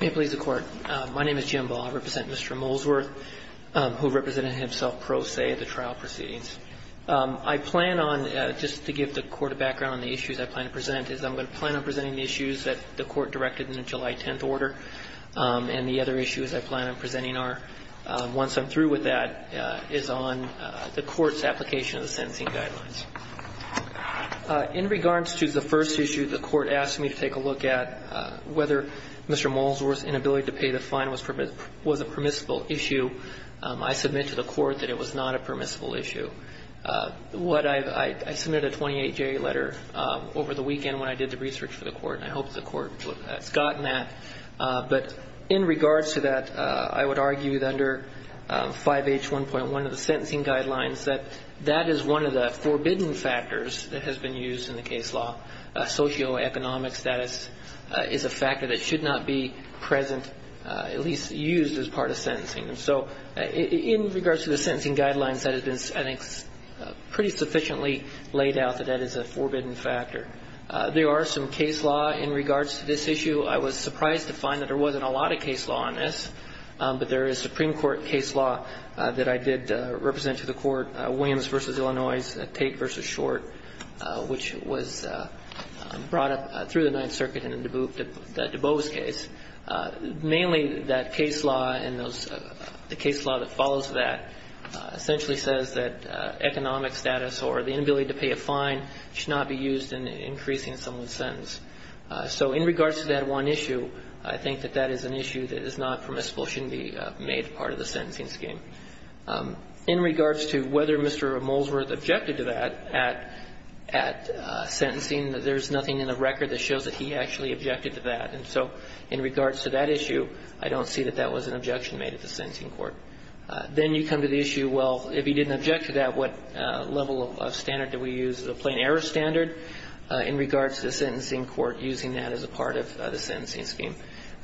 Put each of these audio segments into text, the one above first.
May it please the Court. My name is Jim Ball. I represent Mr. Molesworth who represented himself pro se at the trial proceedings. I plan on, just to give the Court a background on the issues I plan to present, is I'm going to plan on presenting the issues that the Court directed in the July 10th order, and the other issues I plan on presenting are, once I'm through with that, is on the Court's application of the sentencing guidelines. In regards to the first issue, the Court asked me to take a look at whether Mr. Molesworth's inability to pay the fine was a permissible issue. I submit to the Court that it was not a permissible issue. I submitted a 28-J letter over the weekend when I did the research for the Court, and I hope the Court has gotten that. But in regards to that, I would argue that under 5H1.1 of the sentencing guidelines, that that is one of the forbidden factors that has been used in the case law. Socioeconomic status is a factor that should not be present, at least used as part of sentencing. So in regards to the sentencing guidelines, that has been, I think, pretty sufficiently laid out that that is a forbidden factor. There are some case law in regards to this issue. I was surprised to find that there wasn't a lot of case law on this, but there is Supreme Court case law that I did represent to the Court, Williams v. Illinois, Tate v. Short, which was brought up through the Ninth Circuit in the DuBose case. Mainly, that case law and the case law that follows that essentially says that economic status or the inability to pay a fine should not be used in increasing someone's sentence. So in regards to that one issue, I think that that is an issue that is not permissible, shouldn't be made part of the sentencing scheme. In regards to whether Mr. Molesworth objected to that at sentencing, there's nothing in the record that shows that he actually objected to that. And so in regards to that issue, I don't see that that was an objection made at the sentencing court. Then you come to the issue, well, if he didn't object to that, what level of standard do we use as a plain-error standard in regards to the sentencing court using that as a part of the sentencing scheme?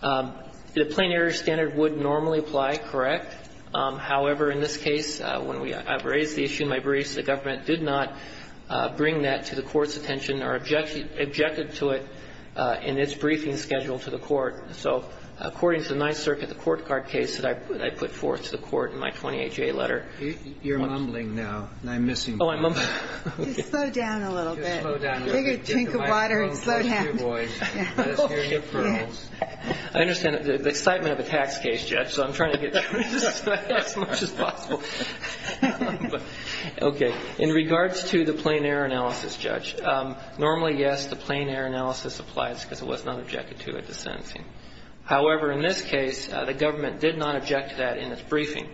The plain-error standard would normally apply, correct. However, in this case, when we raised the issue in my briefs, the government did not bring that to the Court's attention or objected to it in its briefing schedule to the Court. So according to the Ninth Circuit, the court card case that I put forth to the Court in my 28-J letter. Roberts. You're mumbling now, and I'm missing you. You slow down a little bit. Take a drink of water and slow down. I understand the excitement of a tax case, Judge, so I'm trying to get through this as much as possible. Okay. In regards to the plain-error analysis, Judge, normally, yes, the plain-error analysis applies because it was not objected to at the sentencing. However, in this case, the government did not object to that in its briefing.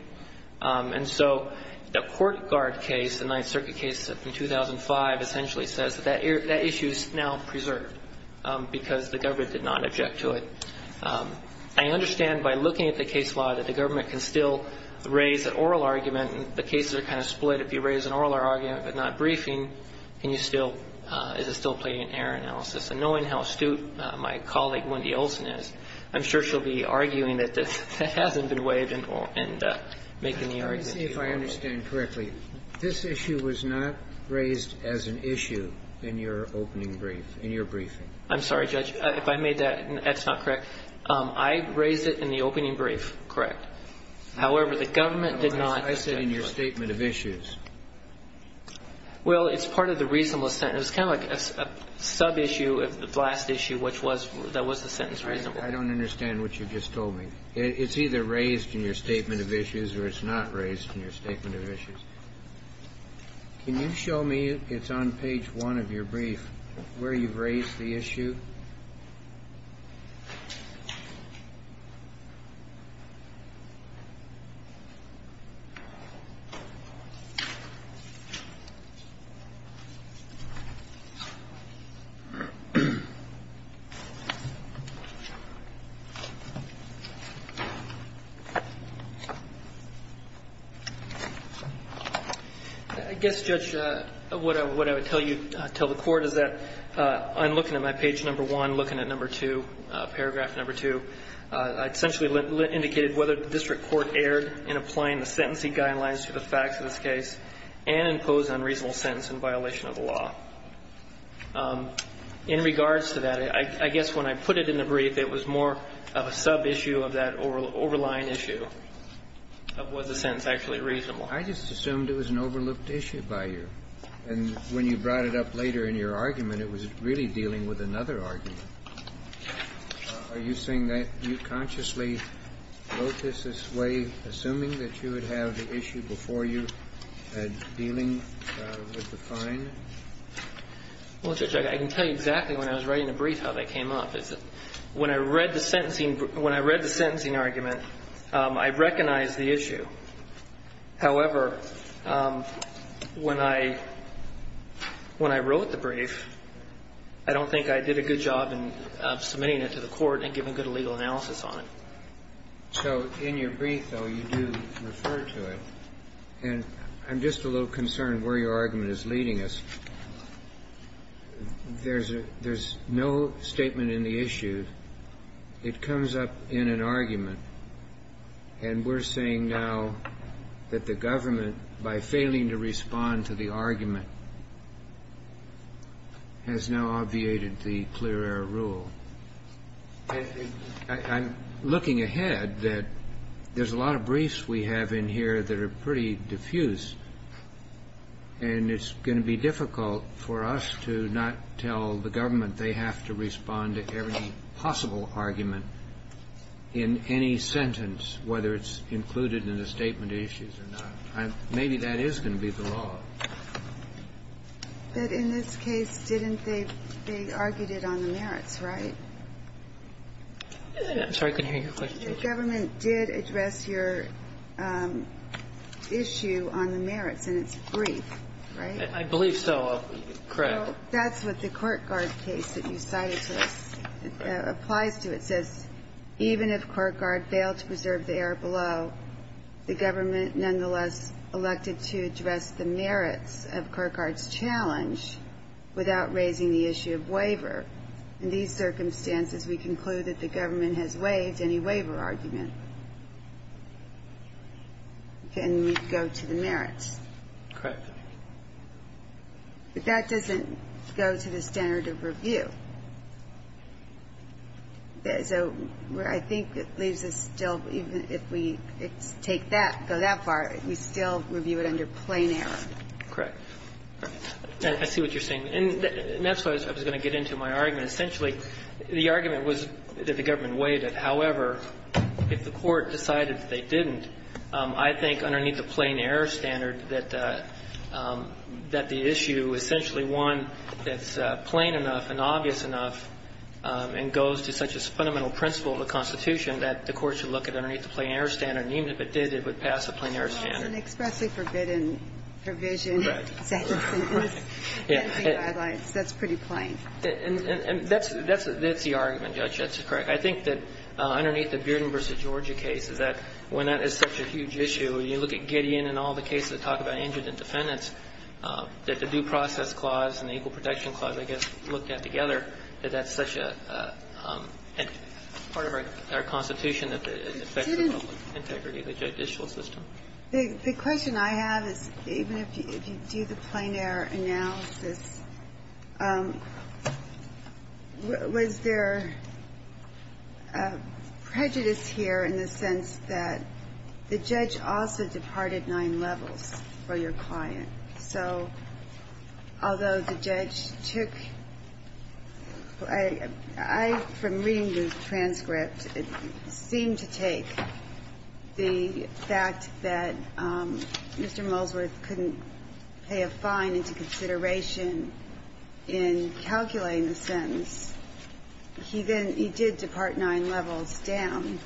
And so the court card case, the Ninth Circuit case from 2005, essentially says that that issue is now preserved because the government did not object to it. I understand by looking at the case law that the government can still raise an oral argument, and the cases are kind of split. If you raise an oral argument but not briefing, can you still – is it still plain-error analysis? And knowing how astute my colleague, Wendy Olson, is, I'm sure she'll be arguing that this hasn't been waived and making the argument. I'm trying to see if I understand correctly. This issue was not raised as an issue in your opening brief, in your briefing. I'm sorry, Judge. If I made that – that's not correct. I raised it in the opening brief, correct. However, the government did not object to it. I said in your statement of issues. Well, it's part of the reasonable sentence. It's kind of like a sub-issue of the last issue, which was – that was the sentence reasonable. I don't understand what you just told me. It's either raised in your statement of issues or it's not raised in your statement of issues. Can you show me – it's on page 1 of your brief – where you've raised the issue? I guess, Judge, what I would tell you – tell the Court is that I'm looking at my page number 1, looking at number 2, paragraph number 2. I essentially indicated whether the district court erred in applying the sentencing guidelines to the facts of this case and imposed an unreasonable sentence in violation of the law. In regards to that, I guess when I put it in the brief, it was more of a sub-issue of that overlying issue of was the sentence actually reasonable. I just assumed it was an overlooked issue by you. And when you brought it up later in your argument, it was really dealing with another argument. Are you saying that you consciously wrote this this way, assuming that you would have the issue before you had dealing with the fine? Well, Judge, I can tell you exactly when I was writing the brief how that came up. When I read the sentencing – when I read the sentencing argument, I recognized the issue. However, when I – when I wrote the brief, I don't think I did a good job in submitting it to the Court and giving good legal analysis on it. So in your brief, though, you do refer to it. And I'm just a little concerned where your argument is leading us. There's a – there's no statement in the issue. I'm just concerned that it comes up in an argument. And we're saying now that the government, by failing to respond to the argument, has now obviated the clear-error rule. And I'm looking ahead that there's a lot of briefs we have in here that are pretty diffuse, and it's going to be difficult for us to not tell the government they have to respond to every possible argument in any sentence, whether it's included in the statement issues or not. Maybe that is going to be the law. But in this case, didn't they – they argued it on the merits, right? I'm sorry. I couldn't hear your question. The government did address your issue on the merits in its brief, right? I believe so. Correct. So that's what the Court-Guard case that you cited to us applies to. It says, even if Court-Guard failed to preserve the error below, the government nonetheless elected to address the merits of Court-Guard's challenge without raising the issue of waiver. In these circumstances, we conclude that the government has waived any waiver argument. And we go to the merits. Correct. But that doesn't go to the standard of review. So I think it leaves us still, even if we take that, go that far, we still review it under plain error. Correct. I see what you're saying. And that's what I was going to get into in my argument. Essentially, the argument was that the government waived it. However, if the Court decided that they didn't, I think underneath the plain error standard, that the issue, essentially one that's plain enough and obvious enough and goes to such a fundamental principle of the Constitution, that the Court should look at underneath the plain error standard, and even if it did, it would pass a plain error standard. Well, it's an expressly forbidden provision. Right. That's pretty plain. And that's the argument, Judge. That's correct. I think that underneath the Bearden v. Georgia case is that when that is such a huge issue, when you look at Gideon and all the cases that talk about injured and defendants, that the Due Process Clause and the Equal Protection Clause, I guess, looked at together, that that's such a part of our Constitution that it affects the public integrity of the judicial system. The question I have is, even if you do the plain error analysis, was there prejudice here in the sense that the judge also departed nine levels for your client? So although the judge took – I, from reading the transcript, seemed to take the fact that Mr. Molesworth couldn't pay a fine into consideration in calculating the sentence, he then – he did depart nine levels down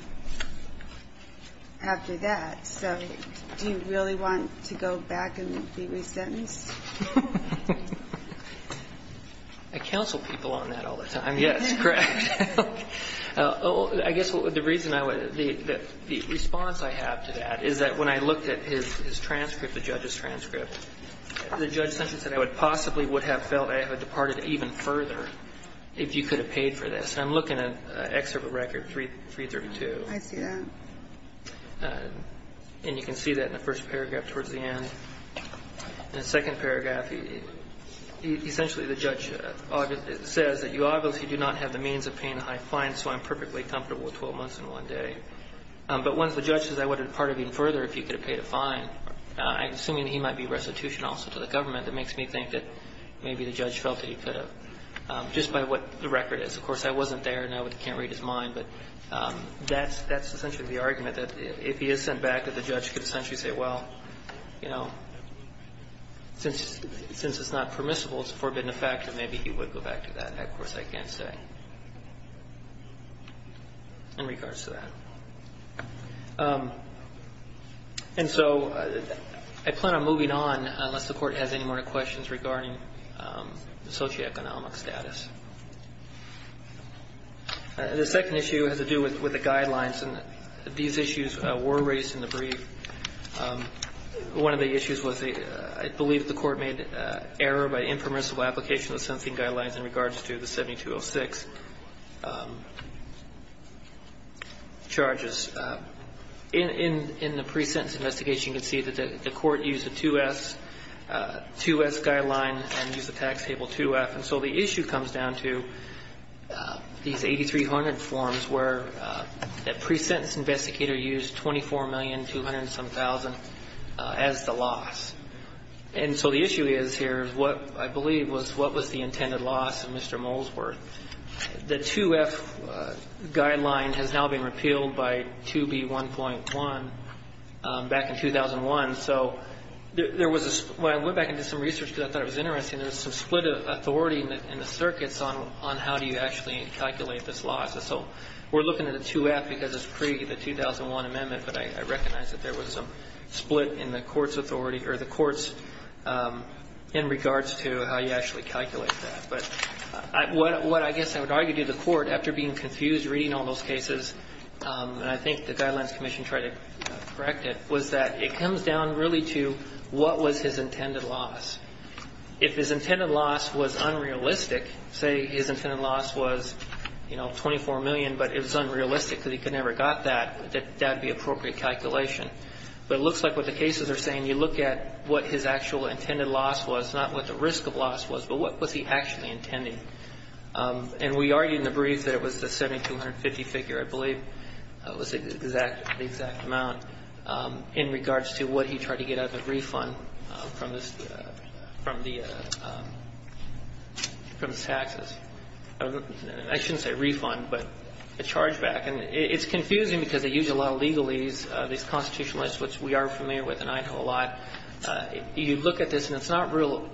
after that. So do you really want to go back and be resentenced? I counsel people on that all the time, yes, correct. I guess the reason I would – the response I have to that is that when I looked at his transcript, the judge's transcript, the judge essentially said I would possibly would have felt I had departed even further if you could have paid for this. And I'm looking at Excerpt of Record 332. I see that. And you can see that in the first paragraph towards the end. In the second paragraph, essentially the judge says that you obviously do not have the means of paying a high fine, so I'm perfectly comfortable with 12 months and one day. But once the judge says I would have departed even further if you could have paid a fine, I'm assuming that he might be restitution also to the government. That makes me think that maybe the judge felt that he could have, just by what the record is. Of course, I wasn't there, and I can't read his mind, but that's essentially the argument, that if he is sent back, that the judge could essentially say, well, you know, since it's not permissible, it's a forbidden effect, then maybe he would go back to that. That, of course, I can't say in regards to that. And so I plan on moving on unless the Court has any more questions regarding the socioeconomic status. The second issue has to do with the guidelines, and these issues were raised in the brief. One of the issues was the – I believe the Court made error by impermissible application of the sentencing guidelines in regards to the 7206 charges. In the pre-sentence investigation, you can see that the Court used a 2S guideline and used the tax table 2F. And so the issue comes down to these 8300 forms where the pre-sentence investigator used $24,200,000-some-thousand as the loss. And so the issue is here is what I believe was the intended loss of Mr. Molesworth. The 2F guideline has now been repealed by 2B1.1 back in 2001. So there was a – when I went back and did some research, because I thought it was interesting, there was some split of authority in the circuits on how do you actually calculate this loss. And so we're looking at a 2F because it's pre-the-2001 amendment, but I recognize that there was some split in the Court's authority or the Court's in regards to how you actually calculate that. But what I guess I would argue to the Court, after being confused reading all those cases, and I think the Guidelines Commission tried to correct it, was that it comes down really to what was his intended loss. If his intended loss was unrealistic, say his intended loss was, you know, $24 million, but it was unrealistic because he could never have got that, that would be appropriate calculation. But it looks like what the cases are saying, you look at what his actual intended loss was, not what the risk of loss was, but what was he actually intending. And we argued in the brief that it was the $7,250 figure, I believe, was the exact amount in regards to what he tried to get out of the refund from his taxes. I shouldn't say refund, but a chargeback. And it's confusing because they use a lot of legalese, these constitutional lists, which we are familiar with and I know a lot. You look at this and it's not real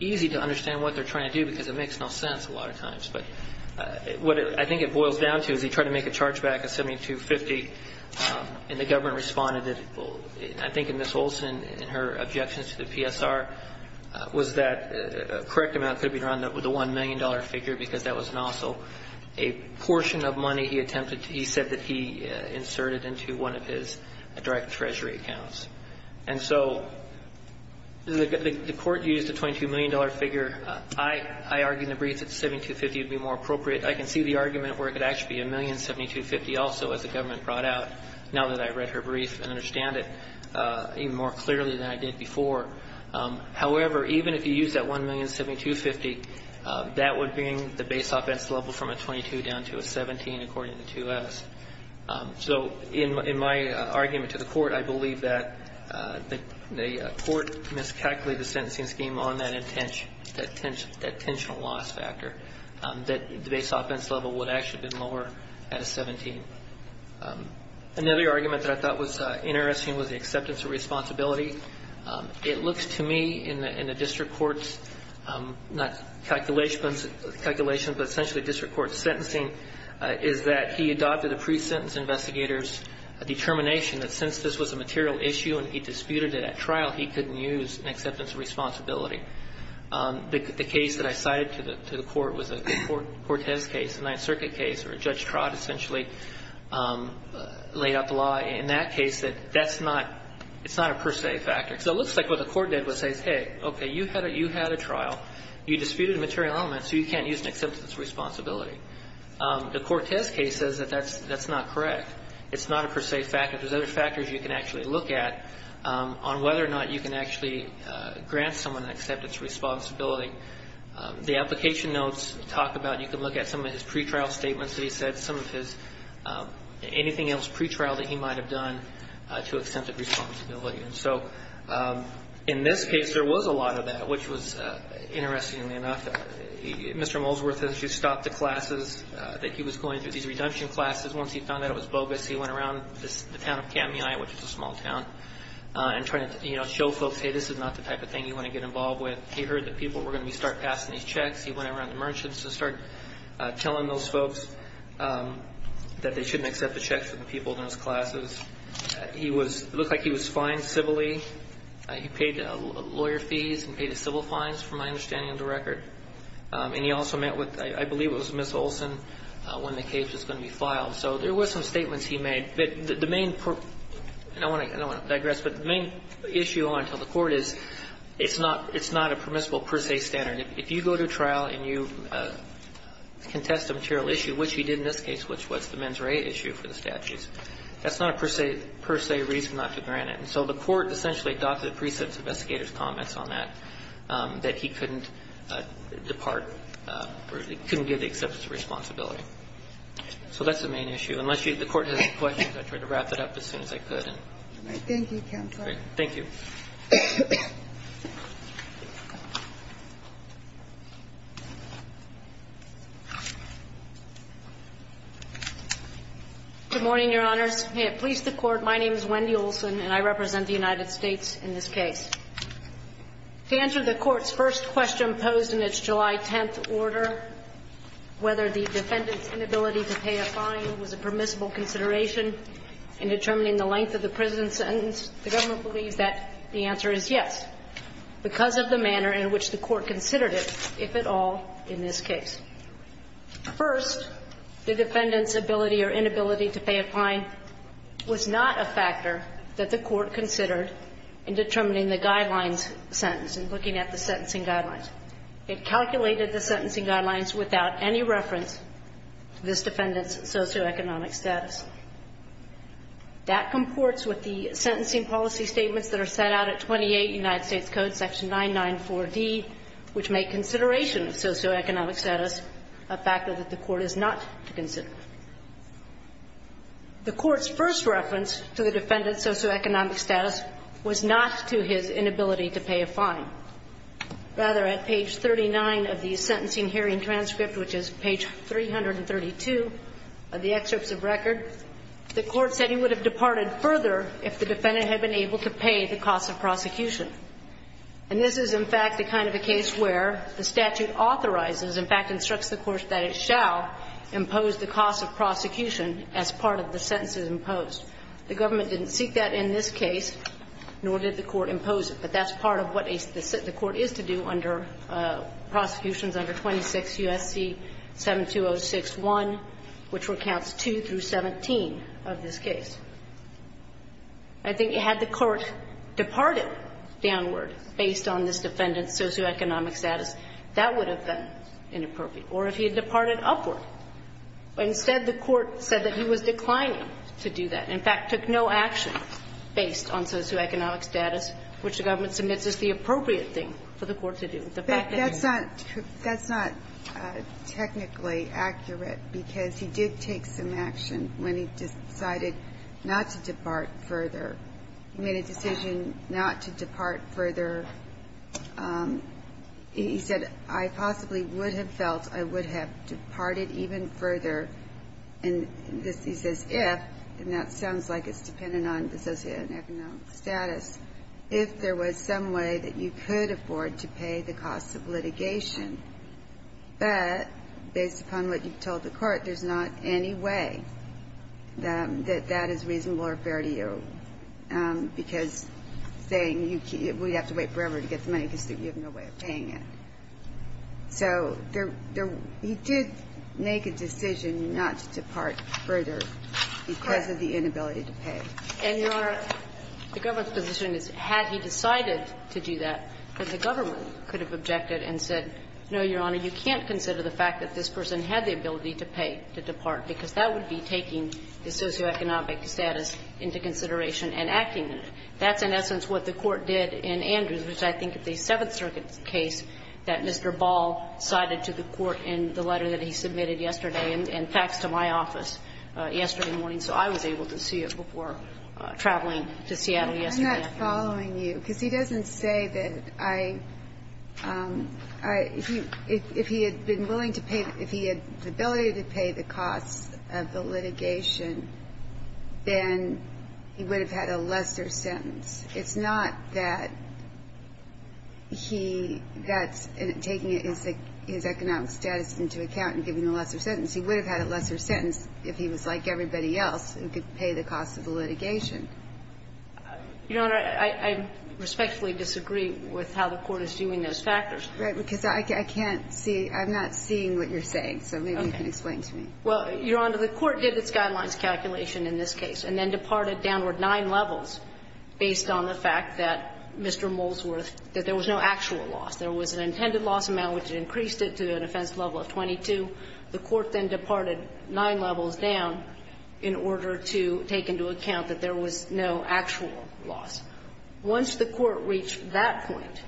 easy to understand what they are trying to do because it makes no sense a lot of times. But what I think it boils down to is he tried to make a chargeback of $7,250 and the government responded that, I think in Ms. Olson, in her objections to the PSR, was that a correct amount could have been rounded up with a $1 million figure because that was an also a portion of money he attempted to, he said that he inserted into one of his direct treasury accounts. And so the Court used a $22 million figure. I argued in the brief that $7,250 would be more appropriate. I can see the argument where it could actually be $1,000,072.50 also, as the government brought out, now that I read her brief and understand it even more clearly than I did before. However, even if you use that $1,000,072.50, that would bring the base offense level from a 22 down to a 17, according to 2S. So in my argument to the Court, I believe that the Court miscalculated the sentencing scheme on that intentional loss factor, that the base offense level would actually have been lower at a 17. Another argument that I thought was interesting was the acceptance of responsibility. It looks to me in the district court's, not calculations, but essentially district court's sentencing, is that he adopted a pre-sentence investigator's determination that since this was a material issue and he disputed it at trial, he couldn't use an acceptance of responsibility. The case that I cited to the Court was a Cortez case, a Ninth Circuit case, where Judge Trott essentially laid out the law in that case that that's not, it's not a per se factor. So it looks like what the Court did was say, hey, okay, you had a trial, you disputed a material element, so you can't use an acceptance of responsibility. The Cortez case says that that's not correct. It's not a per se factor. There's other factors you can actually look at on whether or not you can actually grant someone an acceptance of responsibility. The application notes talk about, you can look at some of his pretrial statements that he said, some of his, anything else pretrial that he might have done to accept a responsibility. And so in this case, there was a lot of that, which was, interestingly enough, Mr. Molesworth essentially stopped the classes that he was going through, these redemption classes. Once he found out it was bogus, he went around the town of Kamii, which is a small town, and tried to, you know, show folks, hey, this is not the type of thing you want to get involved with. He heard that people were going to start passing these checks. He went around the merchants and started telling those folks that they shouldn't accept the checks from the people in those classes. He was, it looked like he was fined civilly. He paid lawyer fees and paid the civil fines, from my understanding of the record. And he also met with, I believe it was Ms. Olson, when the case was going to be filed. So there were some statements he made. But the main, and I don't want to digress, but the main issue I want to tell the Court is, it's not, it's not a permissible per se standard. If you go to trial and you contest a material issue, which he did in this case, which was the mens rea issue for the statutes. That's not a per se reason not to grant it. And so the Court essentially adopted the precepts investigator's comments on that, that he couldn't depart, or he couldn't give the acceptance of responsibility. So that's the main issue. Unless you, the Court has any questions, I'll try to wrap that up as soon as I could. Thank you, Counselor. Thank you. Good morning, Your Honors. May it please the Court, my name is Wendy Olson, and I represent the United States in this case. To answer the Court's first question posed in its July 10th order, whether the defendant's inability to pay a fine was a permissible consideration in determining the length of the prison sentence, the government believes that the answer is yes, because of the manner in which the Court considered it, if at all, in this case. First, the defendant's ability or inability to pay a fine was not a factor that the Court considered in determining the guidelines sentence and looking at the sentencing guidelines. It calculated the sentencing guidelines without any reference to this defendant's socioeconomic status. That comports with the sentencing policy statements that are set out at 28 United States Code, section 994D, which make consideration of socioeconomic status a factor that the Court is not to consider. The Court's first reference to the defendant's socioeconomic status was not to his inability to pay a fine. Rather, at page 39 of the sentencing hearing transcript, which is page 332 of the transcripts of record, the Court said he would have departed further if the defendant had been able to pay the cost of prosecution. And this is, in fact, the kind of a case where the statute authorizes, in fact, instructs the Court that it shall impose the cost of prosecution as part of the sentences imposed. The government didn't seek that in this case, nor did the Court impose it, but that's part of what the Court is to do under prosecutions under 26 U.S.C. 72061, which accounts for counts 2 through 17 of this case. I think had the Court departed downward based on this defendant's socioeconomic status, that would have been inappropriate. Or if he had departed upward, instead the Court said that he was declining to do that. In fact, took no action based on socioeconomic status, which the government submits as the appropriate thing for the Court to do. But that's not technically accurate, because he did take some action when he decided not to depart further. He made a decision not to depart further. He said, I possibly would have felt I would have departed even further. And he says if, and that sounds like it's dependent on the socioeconomic status, if there was some way that you could afford to pay the costs of litigation. But based upon what you've told the Court, there's not any way that that is reasonable or fair to you, because saying we'd have to wait forever to get the money because you have no way of paying it. So there he did make a decision not to depart further because of the inability to pay. And, Your Honor, the government's position is, had he decided to do that, the government could have objected and said, no, Your Honor, you can't consider the fact that this person had the ability to pay to depart, because that would be taking the socioeconomic status into consideration and acting in it. That's in essence what the Court did in Andrews, which I think is a Seventh Circuit case that Mr. Ball cited to the Court in the letter that he submitted yesterday and faxed to my office yesterday morning. So I was able to see it before traveling to Seattle yesterday afternoon. I'm not following you, because he doesn't say that I – if he had been willing to pay – if he had the ability to pay the costs of the litigation, then he would have had a lesser sentence. It's not that he – that's taking his economic status into account and giving him a lesser sentence. He would have had a lesser sentence if he was like everybody else and could pay the costs of the litigation. Your Honor, I respectfully disagree with how the Court is viewing those factors. Right, because I can't see – I'm not seeing what you're saying, so maybe you can explain to me. Well, Your Honor, the Court did its guidelines calculation in this case and then departed downward nine levels based on the fact that Mr. Molesworth – that there was no actual loss. There was an intended loss amount, which increased it to an offense level of 22. The Court then departed nine levels down in order to take into account that there was no actual loss. Once the Court reached that point,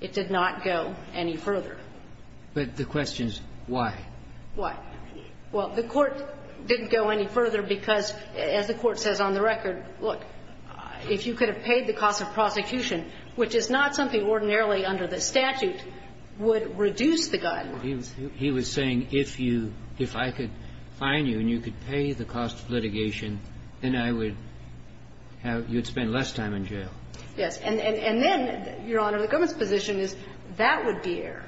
it did not go any further. But the question is why? Why? Well, the Court didn't go any further because, as the Court says on the record, look, if you could have paid the cost of prosecution, which is not something ordinarily under the statute, would reduce the guideline. He was saying if you – if I could fine you and you could pay the cost of litigation, then I would have – you would spend less time in jail. Yes. And then, Your Honor, the government's position is that would be error,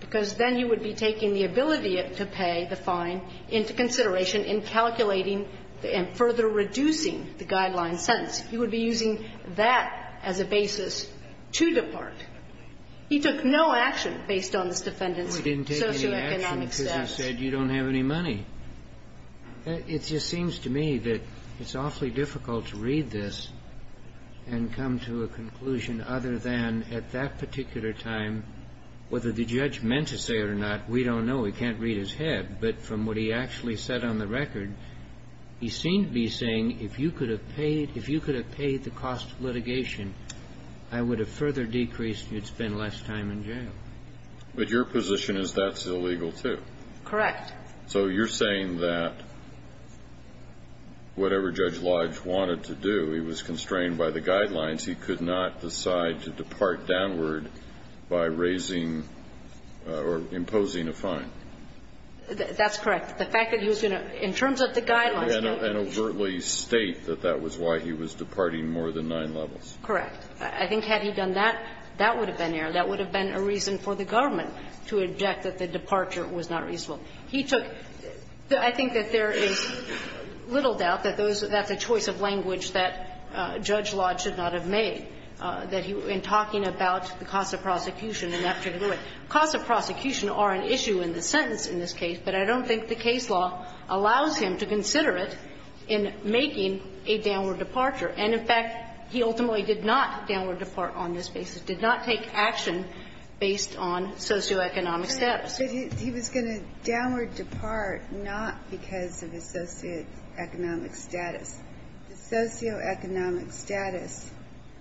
because then you would be taking the ability to pay the fine into consideration in calculating and further reducing the guideline sentence. You would be using that as a basis to depart. He took no action based on this defendant's case. He didn't take any action because he said you don't have any money. It just seems to me that it's awfully difficult to read this and come to a conclusion other than at that particular time, whether the judge meant to say it or not, we don't know. We can't read his head. But from what he actually said on the record, he seemed to be saying if you could have paid – if you could have paid the cost of litigation, I would have further decreased and you'd spend less time in jail. But your position is that's illegal, too. Correct. So you're saying that whatever Judge Lodge wanted to do, he was constrained by the guidelines. He could not decide to depart downward by raising or imposing a fine. That's correct. The fact that he was going to – in terms of the guidelines, no. And overtly state that that was why he was departing more than nine levels. Correct. I think had he done that, that would have been error. That would have been a reason for the government to object that the departure was not reasonable. He took – I think that there is little doubt that those – that's a choice of language that Judge Lodge should not have made, that he – in talking about the cost of prosecution and that particular way. Costs of prosecution are an issue in the sentence in this case, but I don't think the case law allows him to consider it in making a downward departure. And, in fact, he ultimately did not downward depart on this basis. He did not take action based on socioeconomic status. He was going to downward depart not because of his socioeconomic status. The socioeconomic status –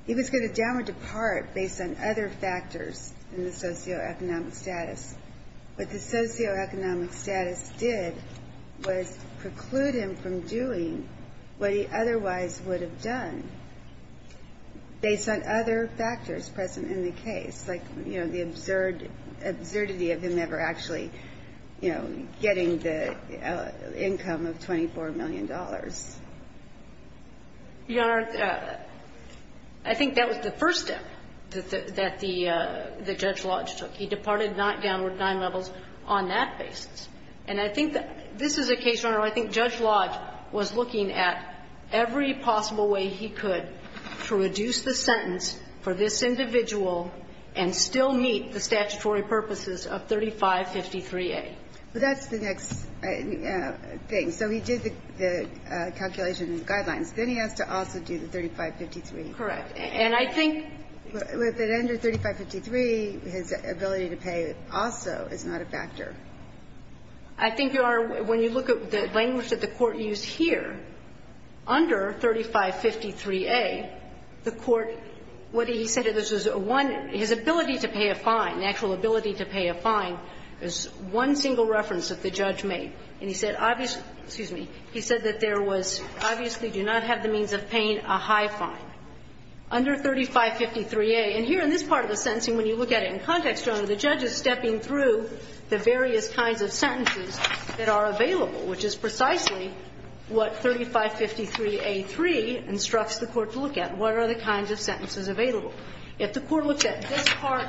he was going to downward depart based on other factors in the socioeconomic status. What the socioeconomic status did was preclude him from doing what he otherwise would have done based on other factors present in the case, like, you know, the absurd – absurdity of him ever actually, you know, getting the income of $24 million. Your Honor, I think that was the first step that the – that Judge Lodge took. He departed not downward nine levels on that basis. And I think that this is a case, Your Honor, where I think Judge Lodge was looking at every possible way he could to reduce the sentence for this individual and still meet the statutory purposes of 3553A. But that's the next thing. So he did the calculation and guidelines. Then he has to also do the 3553. Correct. And I think that under 3553, his ability to pay also is not a factor. I think, Your Honor, when you look at the language that the Court used here, under 3553A, the Court – what he said, this is a one – his ability to pay a fine, natural ability to pay a fine, is one single reference that the judge made. And he said – excuse me – he said that there was – obviously do not have the means of paying a high fine. Under 3553A – and here in this part of the sentencing, when you look at it in context – Your Honor, the judge is stepping through the various kinds of sentences that are available, which is precisely what 3553A3 instructs the Court to look at. What are the kinds of sentences available? If the Court looks at this part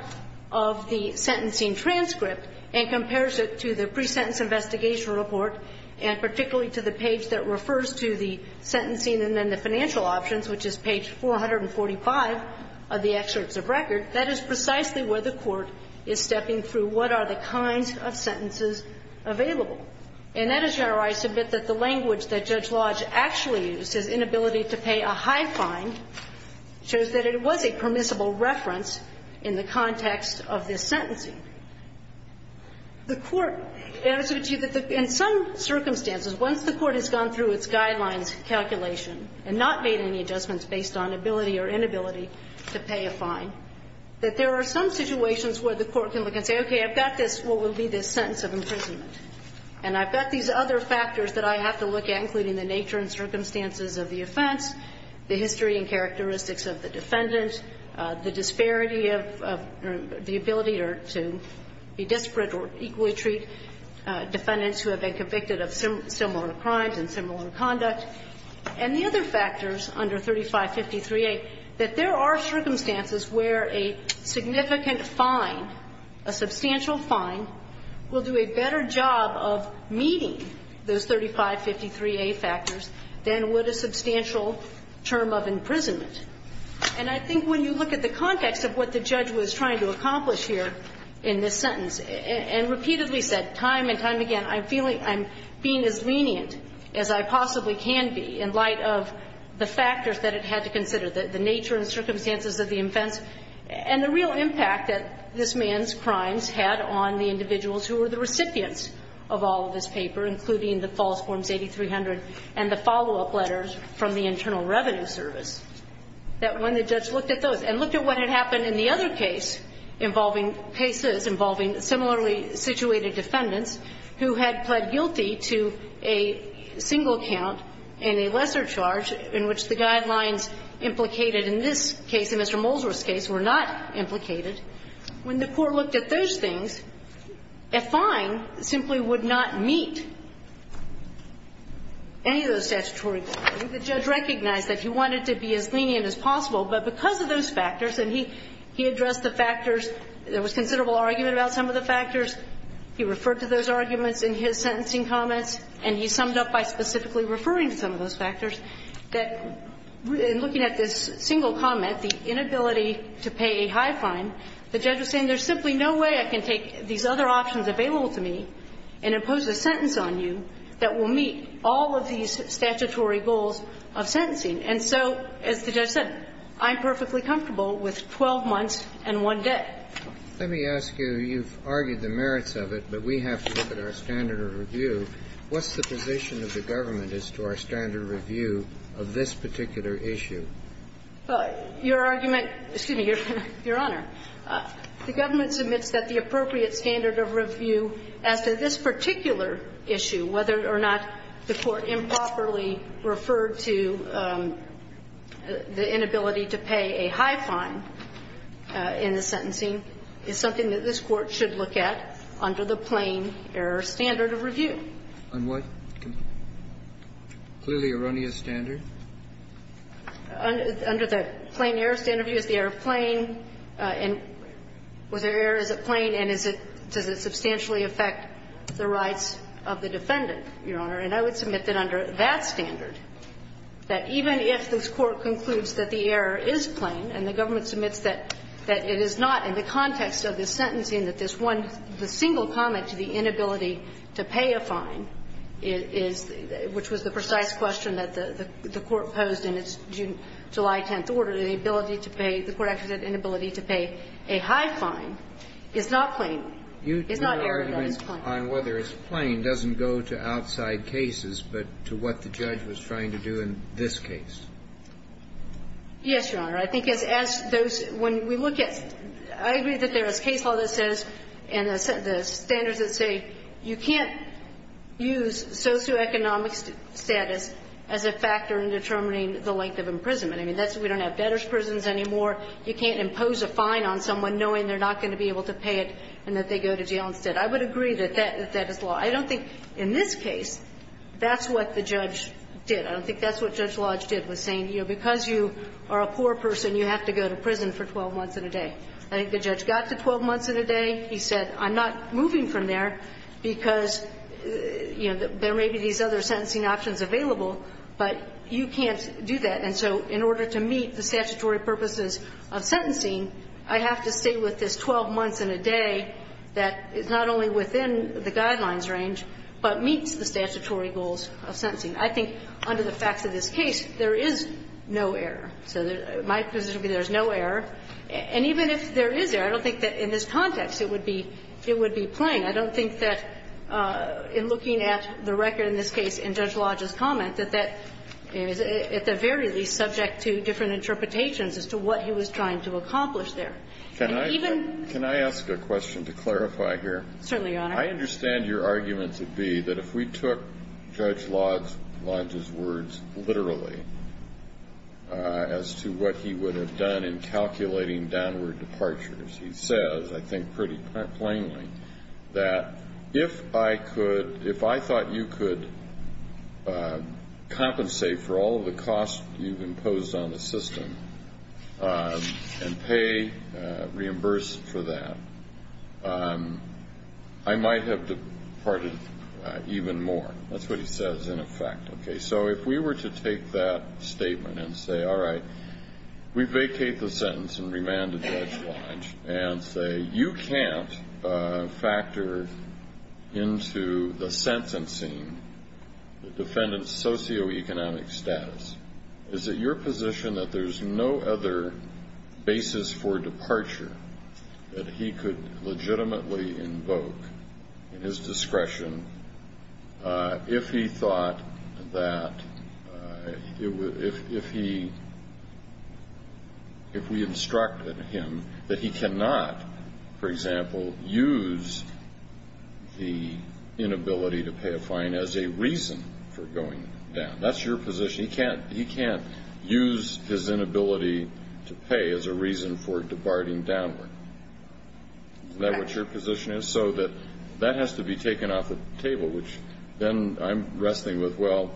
of the sentencing transcript and compares it to the pre-sentence investigation report and particularly to the page that refers to the sentencing and then the financial options, which is page 445 of the excerpts of record, that is precisely where the Court is stepping through what are the kinds of sentences available. And that is where I submit that the language that Judge Lodge actually used, his inability to pay a high fine, shows that it was a permissible reference in the context of this sentencing. The Court – and I would argue that in some circumstances, once the Court has gone through its guidelines calculation and not made any adjustments based on ability or inability to pay a fine, that there are some situations where the Court can look and say, okay, I've got this, what will be this sentence of imprisonment, and I've got these other factors that I have to look at, including the nature and circumstances of the offense, the history and characteristics of the defendant, the disparity of the ability to be disparate or equally treat defendants who have been convicted of similar crimes and similar conduct. And the other factors under 3553A, that there are circumstances where a significant fine, a substantial fine, will do a better job of meeting those 3553A factors than would a substantial term of imprisonment. And I think when you look at the context of what the judge was trying to accomplish here in this sentence, and repeatedly said time and time again, I'm feeling – I'm feeling that I possibly can be, in light of the factors that it had to consider, the nature and circumstances of the offense, and the real impact that this man's crimes had on the individuals who were the recipients of all of this paper, including the false forms 8300 and the follow-up letters from the Internal Revenue Service, that when the judge looked at those and looked at what had happened in the other case involving cases involving similarly situated defendants who had pled guilty to a single count and a lesser charge in which the guidelines implicated in this case, in Mr. Molesworth's case, were not implicated, when the court looked at those things, a fine simply would not meet any of those statutory requirements. The judge recognized that he wanted to be as lenient as possible, but because of those factors, and he addressed the factors, there was considerable argument about some of the factors, he referred to those arguments in his sentencing comments, and he summed up by specifically referring to some of those factors, that in looking at this single comment, the inability to pay a high fine, the judge was saying there's simply no way I can take these other options available to me and impose a sentence on you that will meet all of these statutory goals of sentencing. And so, as the judge said, I'm perfectly comfortable with 12 months and one day. Let me ask you, you've argued the merits of it, but we have to look at our standard of review. What's the position of the government as to our standard of review of this particular issue? Your argument – excuse me, Your Honor. The government submits that the appropriate standard of review as to this particular issue, whether or not the court improperly referred to the inability to pay a high fine in the sentencing, is something that this Court should look at under the plain-error standard of review. On what? Clearly erroneous standard? Under the plain-error standard of review, is the error plain? And was there error, is it plain, and is it – does it substantially affect the rights of the defendant, Your Honor? And I would submit that under that standard, that even if this Court concludes that the error is plain, and the government submits that it is not in the context of the sentencing, that this one – the single comment to the inability to pay a fine is – which was the precise question that the Court posed in its July 10th order, the ability to pay – the Court actually said inability to pay a high fine is not plain. It's not error, but it's plain. You – your argument on whether it's plain doesn't go to outside cases, but to what the judge was trying to do in this case. Yes, Your Honor. I think as those – when we look at – I agree that there is case law that says and the standards that say you can't use socioeconomic status as a factor in determining the length of imprisonment. I mean, that's – we don't have debtor's prisons anymore. You can't impose a fine on someone knowing they're not going to be able to pay it and that they go to jail instead. I would agree that that is law. I don't think in this case that's what the judge did. I don't think that's what Judge Lodge did, was saying, you know, because you are a poor person, you have to go to prison for 12 months and a day. I think the judge got to 12 months and a day. He said, I'm not moving from there because, you know, there may be these other sentencing options available, but you can't do that. And so in order to meet the statutory purposes of sentencing, I have to stay with this 12 months and a day that is not only within the guidelines range, but meets the statutory goals of sentencing. I think under the facts of this case, there is no error. So my position would be there's no error. And even if there is error, I don't think that in this context it would be – it would be plain. I don't think that in looking at the record in this case in Judge Lodge's comment that that is, at the very least, subject to different interpretations as to what he was trying to accomplish there. And even – Kennedy. Can I ask a question to clarify here? Certainly, Your Honor. I understand your argument to be that if we took Judge Lodge's words literally as to what he would have done in calculating downward departures, he says, I think pretty plainly, that if I could – if I thought you could compensate for all of the might have departed even more. That's what he says in effect. Okay. So if we were to take that statement and say, all right, we vacate the sentence and remand to Judge Lodge and say, you can't factor into the sentencing the defendant's socioeconomic status. Is it your position that there's no other basis for departure that he could legitimately invoke in his discretion if he thought that – if he – if we instructed him that he cannot, for example, use the inability to pay a fine as a reason for going down? That's your position? He can't use his inability to pay as a reason for departing downward? Is that what your position is? So that that has to be taken off the table, which then I'm wrestling with, well,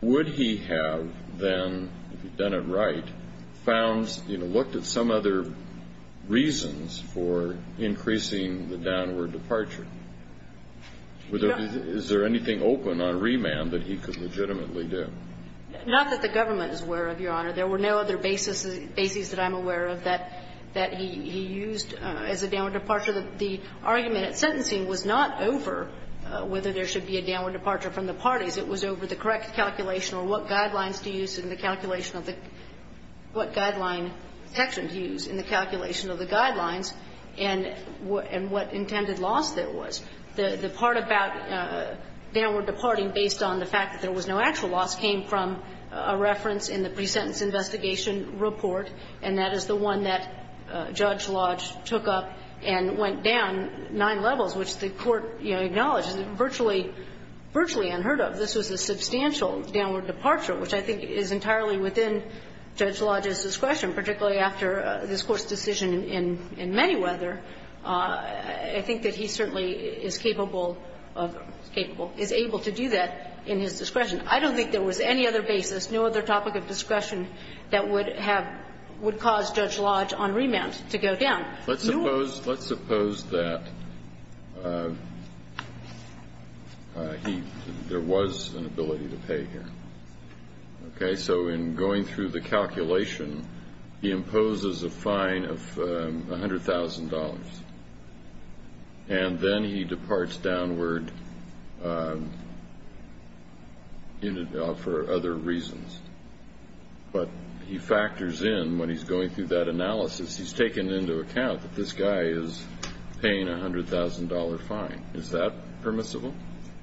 would he have then, if he'd done it right, found, you know, looked at some other reasons for increasing the downward departure? Is there anything open on remand that he could legitimately do? Not that the government is aware of, Your Honor. There were no other basis that I'm aware of that he used as a downward departure. The argument at sentencing was not over whether there should be a downward departure from the parties. It was over the correct calculation or what guidelines to use in the calculation of the – what guideline section to use in the calculation of the guidelines and what intended loss there was. The part about downward departing based on the fact that there was no actual loss came from a reference in the pre-sentence investigation report, and that is the one that Judge Lodge took up and went down nine levels, which the Court, you know, acknowledged is virtually unheard of. This was a substantial downward departure, which I think is entirely within Judge Lodge's discretion, particularly after this Court's decision in Manyweather. I think that he certainly is capable of – capable – is able to do that in his discretion. I don't think there was any other basis, no other topic of discretion that would have – would cause Judge Lodge on remand to go down. Let's suppose – let's suppose that he – there was an ability to pay here, okay? So in going through the calculation, he imposes a fine of $100,000, and then he departs downward for other reasons, but he factors in when he's going through that analysis. He's taken into account that this guy is paying a $100,000 fine. Is that permissible?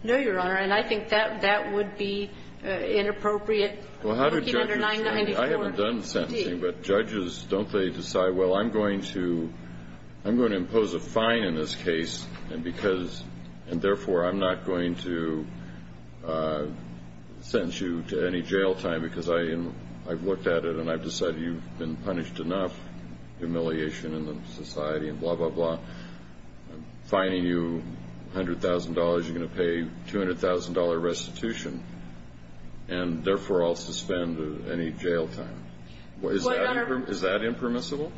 No, Your Honor, and I think that that would be inappropriate looking under 994. I haven't done sentencing, but judges, don't they decide, well, I'm going to – I'm And therefore, I'm not going to sentence you to any jail time, because I – I've looked at it, and I've decided you've been punished enough, humiliation in the society, and blah, blah, blah. I'm fining you $100,000, you're going to pay $200,000 restitution, and therefore, I'll suspend any jail time. Is that impermissible?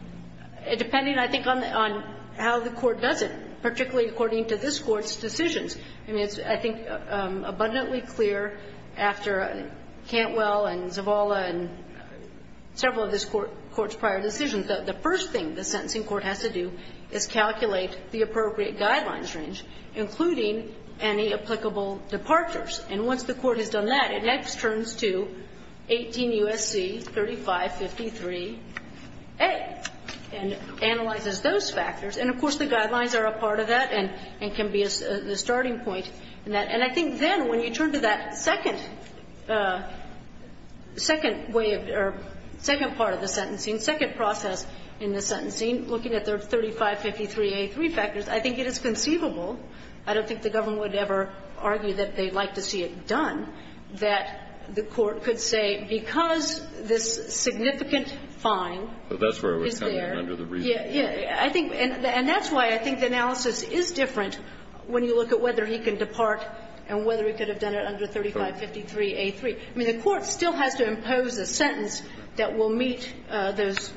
Depending, I think, on how the court does it, particularly according to this Court's decisions. I mean, it's, I think, abundantly clear after Cantwell and Zavala and several of this Court's prior decisions, that the first thing the sentencing court has to do is calculate the appropriate guidelines range, including any applicable departures. And once the Court has done that, it next turns to 18 U.S.C. 3553a. And analyzes those factors. And, of course, the guidelines are a part of that and can be the starting point in that. And I think then, when you turn to that second way of – or second part of the sentencing, second process in the sentencing, looking at the 3553a three factors, I think it is conceivable. I don't think the government would ever argue that they'd like to see it done, that the Court could say, because this significant fine is there. And that's why I think the analysis is different when you look at whether he can depart and whether he could have done it under 3553a three. I mean, the Court still has to impose a sentence that will meet those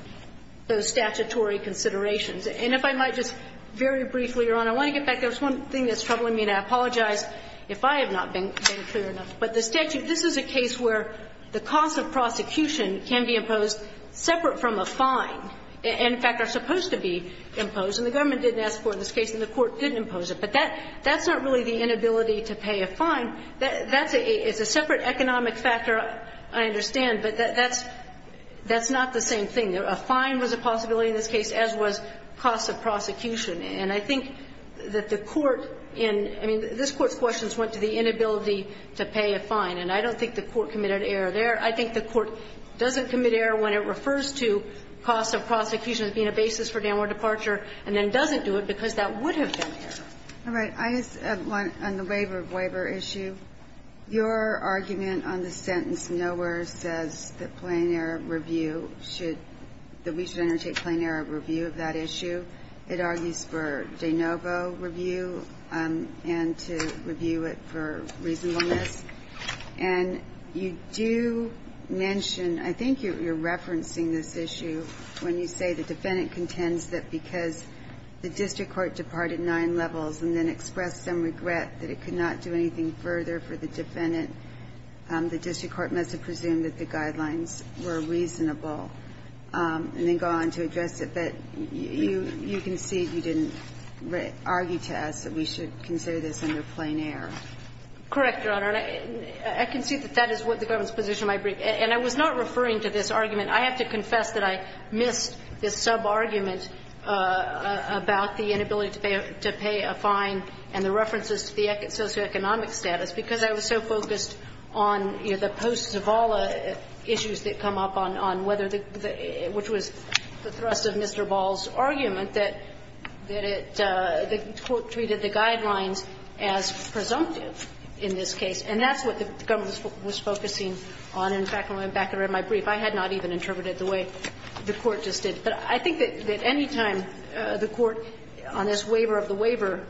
statutory considerations. And if I might just very briefly, Your Honor, I want to get back to one thing that's troubling me, and I apologize if I have not been clear enough. But the statute – this is a case where the cost of prosecution can be imposed separate from a fine, and, in fact, are supposed to be imposed. And the government didn't ask for it in this case, and the Court didn't impose it. But that's not really the inability to pay a fine. That's a – it's a separate economic factor, I understand, but that's not the same thing. A fine was a possibility in this case, as was cost of prosecution. And I think that the Court in – I mean, this Court's questions went to the inability to pay a fine, and I don't think the Court committed error there. I think the Court doesn't commit error when it refers to cost of prosecution as being a basis for downward departure, and then doesn't do it because that would have been error. All right. I just want – on the waiver issue, your argument on the sentence nowhere says that plain error review should – that we should undertake plain error review of that issue. It argues for de novo review, and to review it for reasonableness. And you do mention – I think you're referencing this issue when you say the defendant contends that because the district court departed nine levels and then expressed some regret that it could not do anything further for the defendant, the district court must have presumed that the guidelines were reasonable, and then go on to address it. But you can see you didn't argue to us that we should consider this under plain error. Correct, Your Honor. And I can see that that is what the government's position might be. And I was not referring to this argument. I have to confess that I missed this sub-argument about the inability to pay a fine and the references to the socioeconomic status, because I was so focused on, you know, the post-Zavala issues that come up on whether the – which was the thrust of Mr. Ball's argument that it – that the court treated the guidelines as presumptive in this case. And that's what the government was focusing on. In fact, when I went back and read my brief, I had not even interpreted the way the Court just did. But I think that anytime the Court, on this waiver of the waiver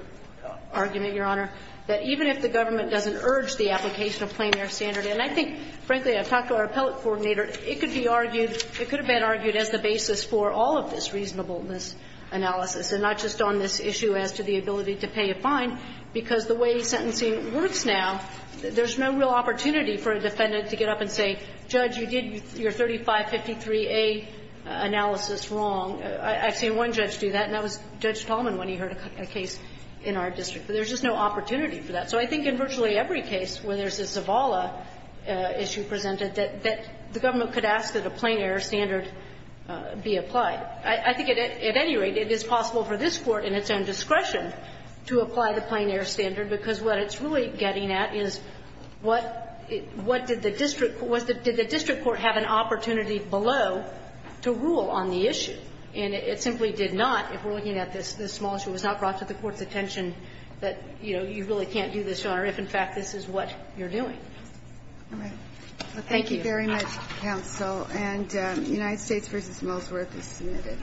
argument, Your Honor, that even if the government doesn't urge the application of plain error standard and I think, frankly, I've talked to our appellate coordinator, it could be argued – it could have been argued as the basis for all of this reasonableness analysis and not just on this issue as to the ability to pay a fine, because the way sentencing works now, there's no real opportunity for a defendant to get up and say, Judge, you did your 3553A analysis wrong. I've seen one judge do that, and that was Judge Tallman when he heard a case in our district. But there's just no opportunity for that. So I think in virtually every case where there's a Zavala issue presented, that the government could ask that a plain error standard be applied. I think at any rate, it is possible for this Court in its own discretion to apply the plain error standard, because what it's really getting at is what did the district – did the district court have an opportunity below to rule on the issue? And it simply did not, if we're looking at this small issue, was not brought to the honor if in fact this is what you're doing. All right. Thank you. Thank you very much, counsel. And United States v. Mosworth is submitted.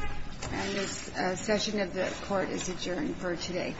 And this session of the Court is adjourned for today.